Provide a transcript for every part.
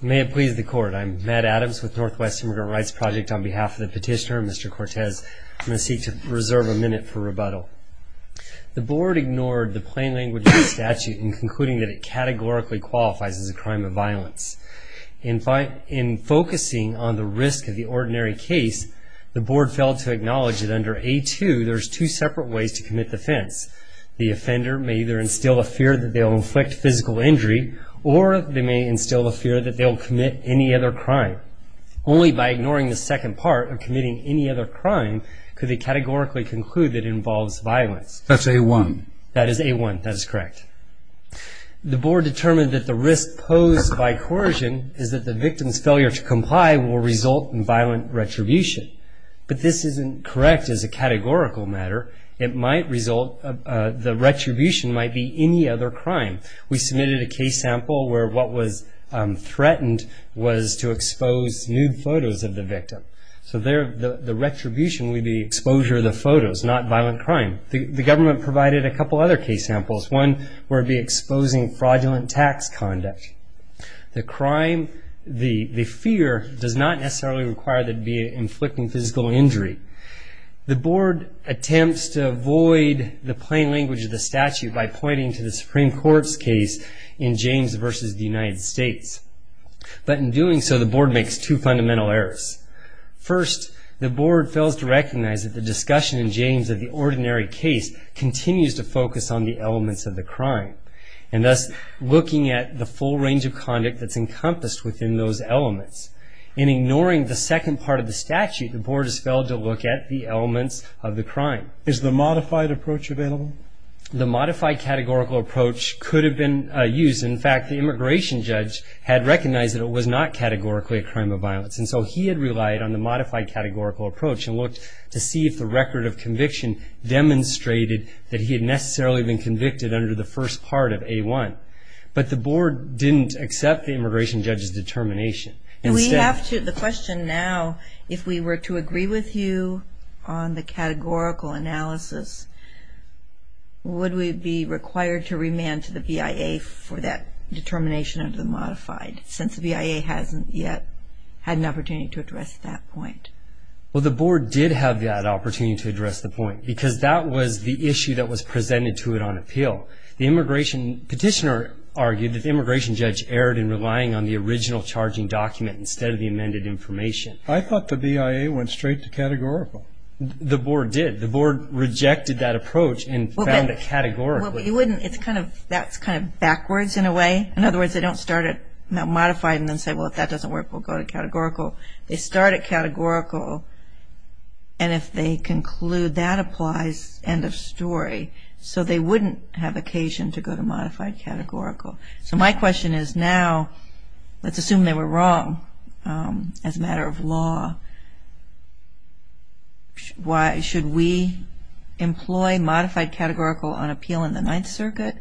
May it please the Court. I'm Matt Adams with Northwest Immigrant Rights Project. On behalf of the petitioner, Mr. Cortez, I'm going to seek to reserve a minute for rebuttal. The Board ignored the plain language of the statute in concluding that it categorically qualifies as a crime of violence. In focusing on the risk of the ordinary case, the Board failed to acknowledge that under A-2, there are two separate ways to commit the offense. The offender may either instill a fear that they'll inflict physical injury, or they may instill a fear that they'll commit any other crime. Only by ignoring the second part of committing any other crime could they categorically conclude that it involves violence. That's A-1. That is A-1. That is correct. The Board determined that the risk posed by coercion is that the victim's failure to comply will result in violent retribution. But this isn't correct as a categorical matter. It might result, the retribution might be any other crime. We submitted a case sample where what was threatened was to expose nude photos of the victim. So there, the retribution would be exposure of the photos, not violent crime. The government provided a couple other case samples. One would be exposing fraudulent tax conduct. The crime, the fear, does not necessarily require that it be inflicting physical injury. The Board attempts to avoid the plain language of the statute by pointing to the Supreme Court's case in James v. the United States. But in doing so, the Board makes two fundamental errors. First, the Board fails to recognize that the discussion in James of the ordinary case continues to focus on the elements of the crime. And thus, looking at the full range of conduct that's encompassed within those elements. In ignoring the second part of the statute, the Board has failed to look at the elements of the crime. Is the modified approach available? The modified categorical approach could have been used. In fact, the immigration judge had recognized that it was not categorically a crime of violence. And so he had relied on the modified categorical approach and looked to see if the record of conviction demonstrated that he had necessarily been convicted under the first part of A1. But the Board didn't accept the immigration judge's determination. And we have to, the question now, if we were to agree with you on the categorical analysis, would we be required to remand to the BIA for that determination of the modified, since the BIA hasn't yet had an opportunity to address that point? Well, the Board did have that opportunity to address the point, because that was the issue that was presented to it on appeal. The immigration petitioner argued that the immigration judge erred in relying on the original charging document instead of the amended information. I thought the BIA went straight to categorical. The Board did. The Board rejected that approach and found it categorical. Well, but you wouldn't, it's kind of, that's kind of backwards in a way. In other words, they don't start at modified and then say, well, if that doesn't work, we'll go to categorical. They start at categorical, and if they conclude that applies, end of story. So they wouldn't have occasion to go to modified categorical. So my question is now, let's assume they were wrong as a matter of law. Should we employ modified categorical on appeal in the Ninth Circuit,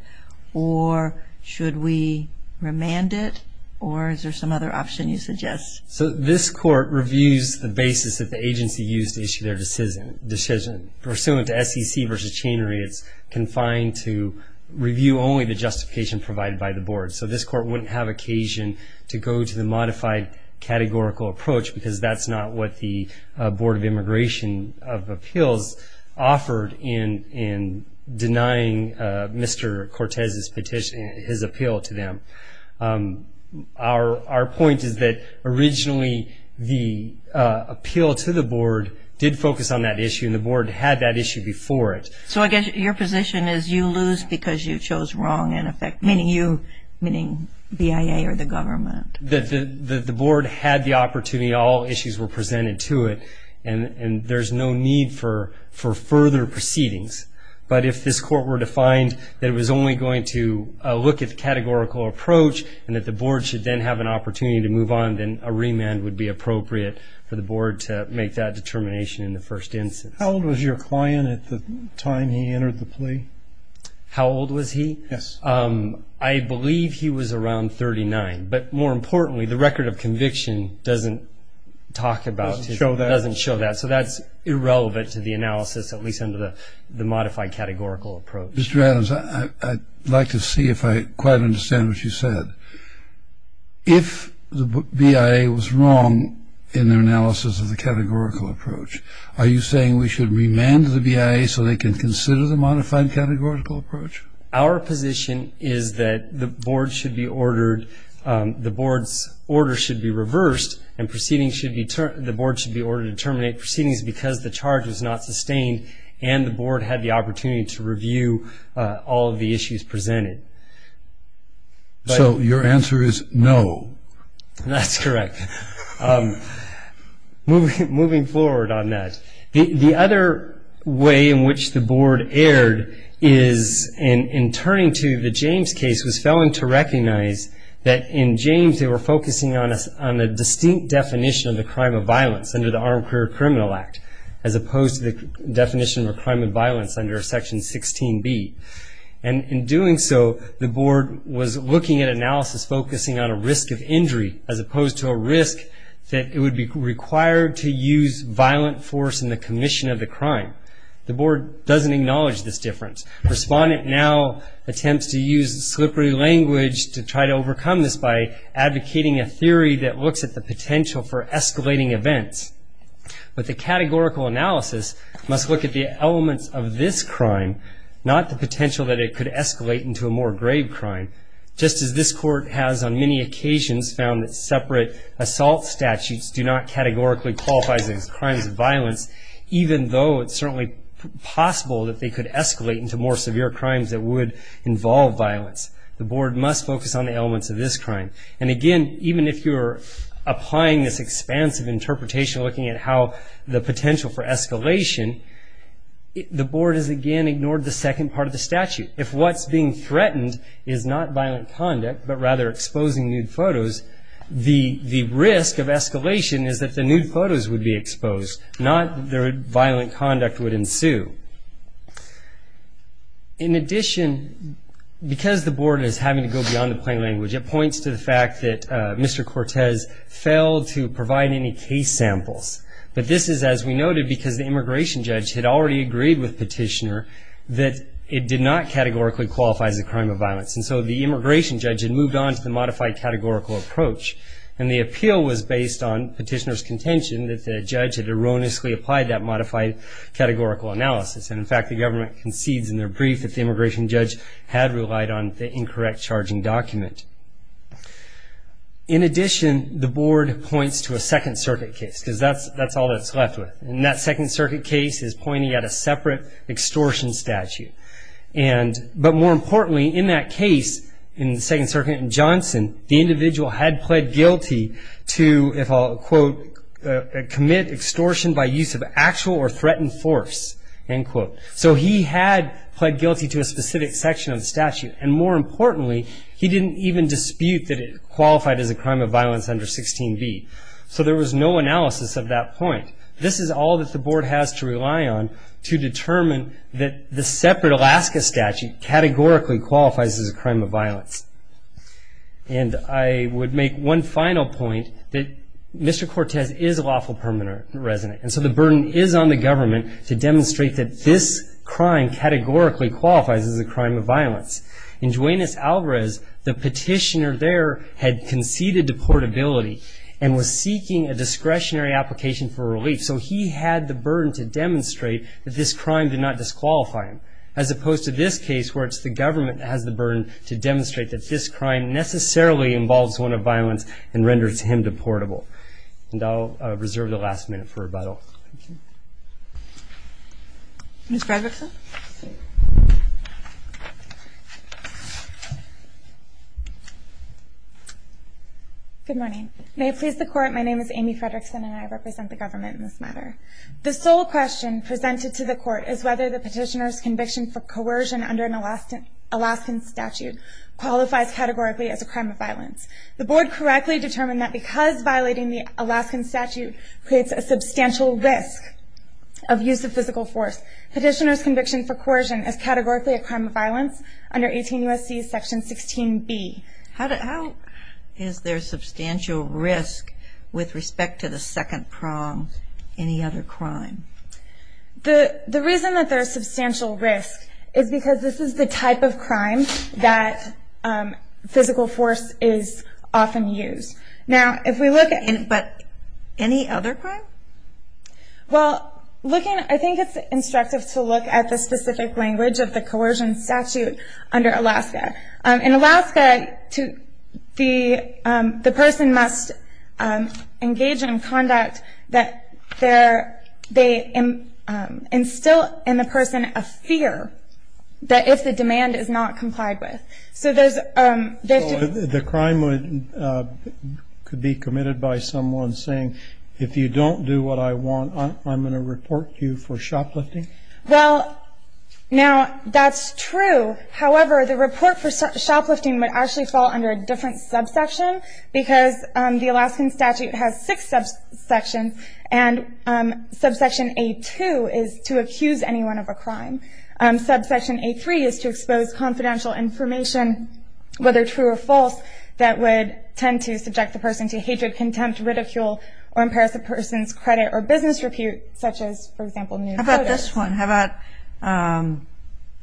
or should we remand it, or is there some other option you suggest? So this Court reviews the basis that the agency used to issue their decision. Pursuant to SEC v. Chenery, it's confined to review only the justification provided by the Board. So this Court wouldn't have occasion to go to the modified categorical approach because that's not what the Board of Immigration of Appeals offered in denying Mr. Cortez's petition, his appeal to them. Our point is that originally the appeal to the Board did focus on that issue, and the Board had that issue before it. So I guess your position is you lose because you chose wrong in effect, meaning you, meaning BIA or the government. The Board had the opportunity. All issues were presented to it, and there's no need for further proceedings. But if this Court were to find that it was only going to look at the categorical approach and that the Board should then have an opportunity to move on, then a remand would be appropriate for the Board to make that determination in the first instance. How old was your client at the time he entered the plea? How old was he? Yes. I believe he was around 39. But more importantly, the record of conviction doesn't talk about it. Doesn't show that. So that's irrelevant to the analysis, at least under the modified categorical approach. Mr. Adams, I'd like to see if I quite understand what you said. If the BIA was wrong in their analysis of the categorical approach, are you saying we should remand the BIA so they can consider the modified categorical approach? Our position is that the Board's order should be reversed and the Board should be ordered to terminate proceedings because the charge was not sustained and the Board had the opportunity to review all of the issues presented. So your answer is no. That's correct. Moving forward on that, the other way in which the Board erred is in turning to the James case, was failing to recognize that in James they were focusing on a distinct definition of the crime of violence under the Armed Career Criminal Act as opposed to the definition of a crime of violence under Section 16B. And in doing so, the Board was looking at analysis focusing on a risk of injury as opposed to a risk that it would be required to use violent force in the commission of the crime. The Board doesn't acknowledge this difference. Respondent now attempts to use slippery language to try to overcome this by advocating a theory that looks at the potential for escalating events. But the categorical analysis must look at the elements of this crime, not the potential that it could escalate into a more grave crime. Just as this Court has on many occasions found that separate assault statutes do not categorically qualify as crimes of violence, even though it's certainly possible that they could escalate into more severe crimes that would involve violence. The Board must focus on the elements of this crime. And again, even if you're applying this expansive interpretation, looking at how the potential for escalation, the Board has again ignored the second part of the statute. If what's being threatened is not violent conduct but rather exposing nude photos, the risk of escalation is that the nude photos would be exposed, not that violent conduct would ensue. In addition, because the Board is having to go beyond the plain language, it points to the fact that Mr. Cortez failed to provide any case samples. But this is, as we noted, because the immigration judge had already agreed with Petitioner that it did not categorically qualify as a crime of violence. And so the immigration judge had moved on to the modified categorical approach, and the appeal was based on Petitioner's contention that the judge had erroneously applied that modified categorical analysis. And in fact, the government concedes in their brief that the immigration judge had relied on the incorrect charging document. In addition, the Board points to a Second Circuit case, because that's all that's left with. And that Second Circuit case is pointing at a separate extortion statute. But more importantly, in that case, in the Second Circuit in Johnson, the individual had pled guilty to, if I'll quote, commit extortion by use of actual or threatened force, end quote. So he had pled guilty to a specific section of the statute. And more importantly, he didn't even dispute that it qualified as a crime of violence under 16b. So there was no analysis of that point. This is all that the Board has to rely on to determine that the separate Alaska statute categorically qualifies as a crime of violence. And I would make one final point, that Mr. Cortez is a lawful permanent resident. And so the burden is on the government to demonstrate that this crime categorically qualifies as a crime of violence. In Juenas-Alvarez, the Petitioner there had conceded deportability and was seeking a discretionary application for relief. So he had the burden to demonstrate that this crime did not disqualify him, as opposed to this case where it's the government that has the burden to demonstrate that this crime necessarily involves one of violence and renders him deportable. And I'll reserve the last minute for rebuttal. Ms. Fredrickson? Good morning. May it please the Court, my name is Amy Fredrickson and I represent the government in this matter. The sole question presented to the Court is whether the Petitioner's conviction for coercion under an Alaskan statute qualifies categorically as a crime of violence. The Board correctly determined that because violating the Alaskan statute creates a substantial risk of use of physical force, Petitioner's conviction for coercion is categorically a crime of violence under 18 U.S.C. Section 16B. How is there substantial risk with respect to the second prong, any other crime? The reason that there is substantial risk is because this is the type of crime that physical force is often used. But any other crime? Well, I think it's instructive to look at the specific language of the coercion statute under Alaska. In Alaska, the person must engage in conduct that they instill in the person a fear that if the demand is not complied with. The crime could be committed by someone saying, if you don't do what I want I'm going to report you for shoplifting? Well, now that's true. However, the report for shoplifting would actually fall under a different subsection because the Alaskan statute has six subsections and subsection A2 is to accuse anyone of a crime. Subsection A3 is to expose confidential information, whether true or false, that would tend to subject the person to hatred, contempt, ridicule, or impairs the person's credit or business repute, such as, for example, nude photos. How about this one, how about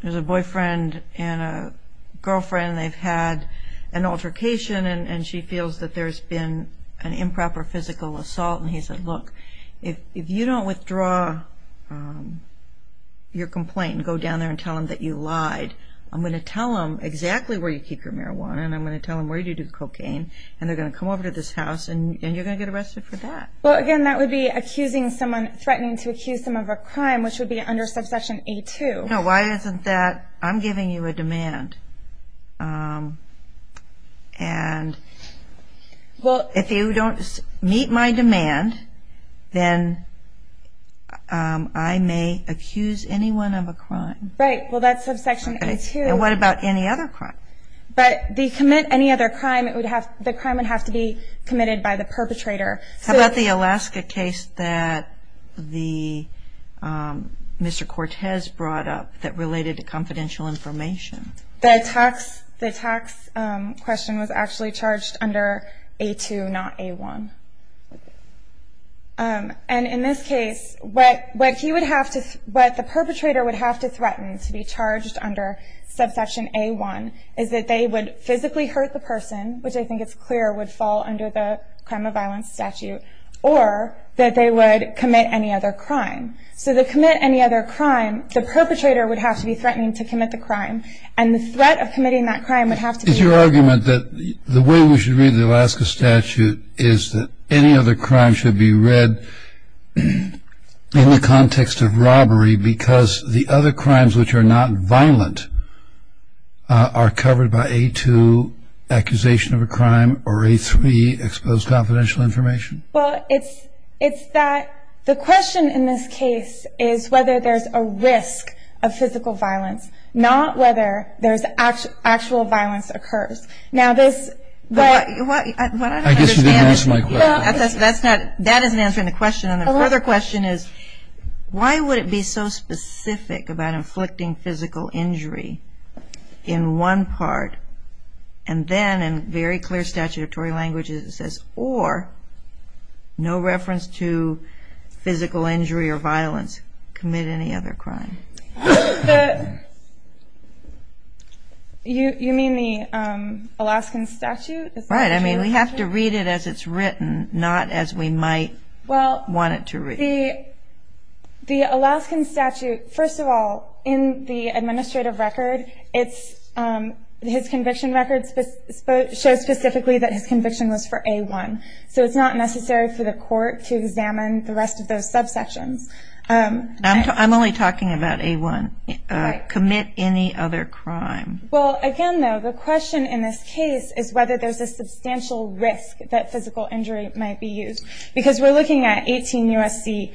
there's a boyfriend and a girlfriend and they've had an altercation and she feels that there's been an improper physical assault and he said, look, if you don't withdraw your complaint and go down there and tell them that you lied, I'm going to tell them exactly where you keep your marijuana and I'm going to tell them where you do cocaine and they're going to come over to this house and you're going to get arrested for that. Well, again, that would be accusing someone, threatening to accuse them of a crime, which would be under subsection A2. No, why isn't that, I'm giving you a demand and if you don't meet my demand, then I may accuse anyone of a crime. Right, well, that's subsection A2. And what about any other crime? But to commit any other crime, the crime would have to be committed by the perpetrator. How about the Alaska case that Mr. Cortez brought up that related to confidential information? The tax question was actually charged under A2, not A1. And in this case, what the perpetrator would have to threaten to be charged under subsection A1 is that they would physically hurt the person, which I think is clear, would fall under the crime of violence statute, or that they would commit any other crime. So to commit any other crime, the perpetrator would have to be threatening to commit the crime and the threat of committing that crime would have to be… Is your argument that the way we should read the Alaska statute is that any other crime should be read in the context of robbery because the other crimes which are not violent are covered by A2, accusation of a crime, or A3, exposed confidential information? Well, it's that the question in this case is whether there's a risk of physical violence, not whether there's actual violence occurs. Now this… I guess you didn't answer my question. That isn't answering the question. The other question is why would it be so specific about inflicting physical injury in one part and then in very clear statutory language it says, or no reference to physical injury or violence, commit any other crime? You mean the Alaskan statute? Right. I mean we have to read it as it's written, not as we might want it to read. Well, the Alaskan statute, first of all, in the administrative record, his conviction record shows specifically that his conviction was for A1. So it's not necessary for the court to examine the rest of those subsections. I'm only talking about A1. Right. Commit any other crime. Well, again, though, the question in this case is whether there's a substantial risk that physical injury might be used because we're looking at 18 U.S.C.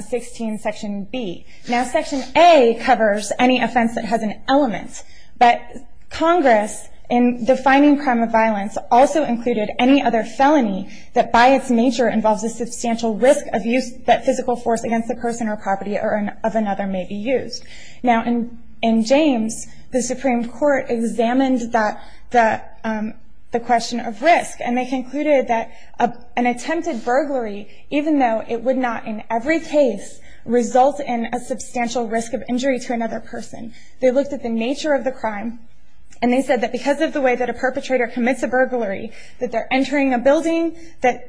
16, Section B. Now Section A covers any offense that has an element, but Congress in defining crime of violence also included any other felony that by its nature involves a substantial risk of use that physical force against a person or property of another may be used. Now in James, the Supreme Court examined the question of risk, and they concluded that an attempted burglary, even though it would not in every case result in a substantial risk of injury to another person, they looked at the nature of the crime, and they said that because of the way that a perpetrator commits a burglary, that they're entering a building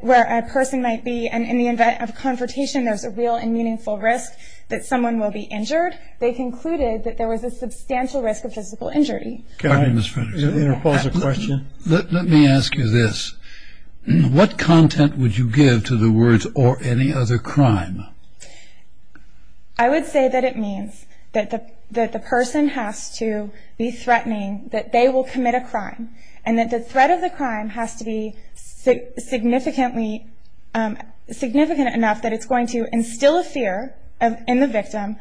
where a person might be, and in the event of a confrontation there's a real and meaningful risk that someone will be injured, they concluded that there was a substantial risk of physical injury. Can I pause the question? Let me ask you this. What content would you give to the words, or any other crime? I would say that it means that the person has to be threatening that they will commit a crime, and that the threat of the crime has to be significant enough that it's going to instill a fear in the victim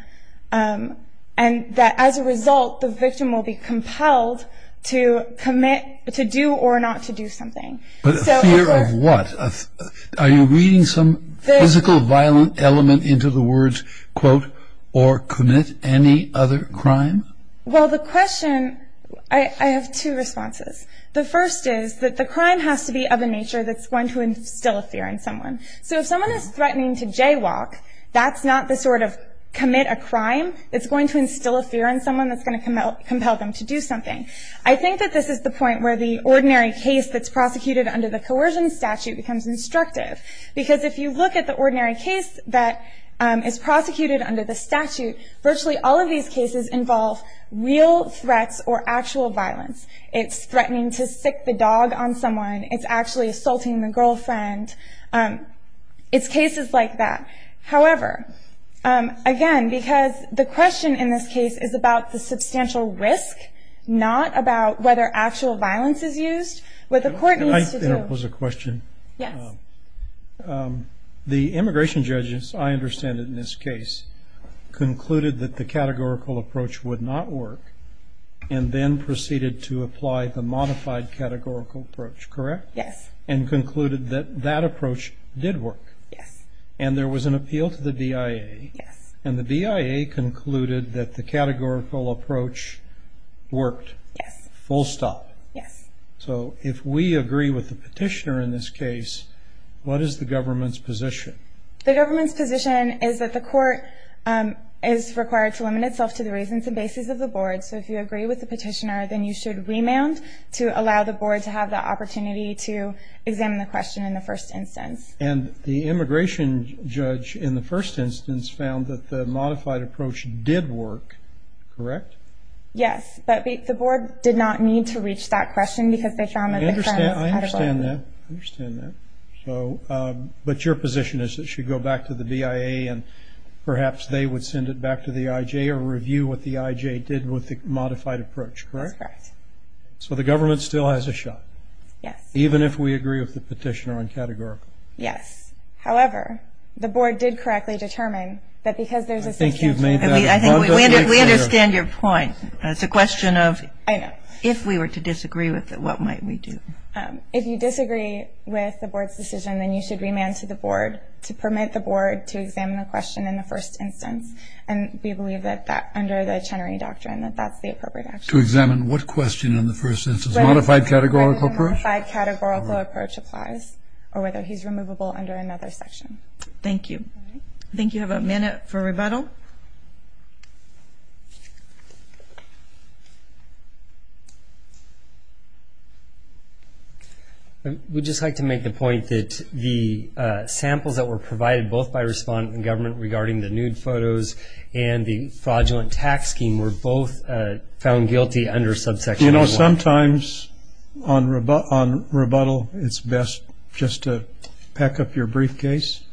and that as a result the victim will be compelled to commit, to do or not to do something. But a fear of what? Are you reading some physical violent element into the words, quote, or commit any other crime? Well, the question, I have two responses. The first is that the crime has to be of a nature that's going to instill a fear in someone. So if someone is threatening to jaywalk, that's not the sort of commit a crime, it's going to instill a fear in someone that's going to compel them to do something. I think that this is the point where the ordinary case that's prosecuted under the coercion statute becomes instructive, because if you look at the ordinary case that is prosecuted under the statute, virtually all of these cases involve real threats or actual violence. It's threatening to stick the dog on someone. It's actually assaulting the girlfriend. It's cases like that. However, again, because the question in this case is about the substantial risk, not about whether actual violence is used, what the court needs to do. Can I interpose a question? Yes. The immigration judges, I understand in this case, concluded that the categorical approach would not work and then proceeded to apply the modified categorical approach, correct? Yes. And concluded that that approach did work. Yes. And there was an appeal to the DIA. Yes. And the DIA concluded that the categorical approach worked. Yes. Full stop. Yes. So if we agree with the petitioner in this case, what is the government's position? The government's position is that the court is required to limit itself to the reasons and basis of the board. So if you agree with the petitioner, then you should remand to allow the board to have the opportunity to examine the question in the first instance. And the immigration judge in the first instance found that the modified approach did work, correct? Yes. But the board did not need to reach that question because they found that it was credible. I understand that. I understand that. But your position is that it should go back to the DIA and perhaps they would send it back to the IJ or review what the IJ did with the modified approach, correct? That's correct. So the government still has a shot. Yes. Even if we agree with the petitioner on categorical. Yes. However, the board did correctly determine that because there's a system. I think you've made that. We understand your point. It's a question of if we were to disagree with it, what might we do? If you disagree with the board's decision, then you should remand to the board to permit the board to examine the question in the first instance. And we believe that under the Chenery Doctrine that that's the appropriate action. To examine what question in the first instance? Modified categorical approach? Whether the modified categorical approach applies or whether he's removable under another section. Thank you. I think you have a minute for rebuttal. I would just like to make the point that the samples that were provided both by respondent and government regarding the nude photos and the fraudulent tax scheme were both found guilty under subsection A1. You know, sometimes on rebuttal it's best just to pack up your briefcase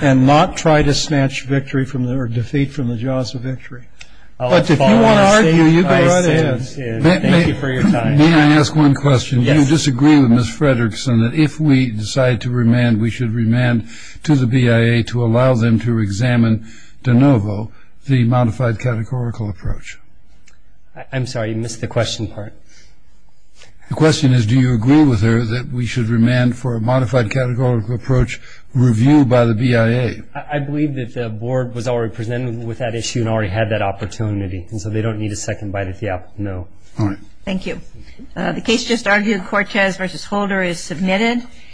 and not try to snatch victory or defeat from the jaws of victory. But if you want to argue, you go right ahead. Thank you for your time. May I ask one question? Yes. Do you disagree with Ms. Fredrickson that if we decide to remand, we should remand to the BIA to allow them to examine de novo the modified categorical approach? I'm sorry, you missed the question part. The question is do you agree with her that we should remand for a modified categorical approach reviewed by the BIA? I believe that the board was already presented with that issue and already had that opportunity, and so they don't need a second bite at the apple. No. All right. Thank you. The case just argued, Cortez v. Holder is submitted.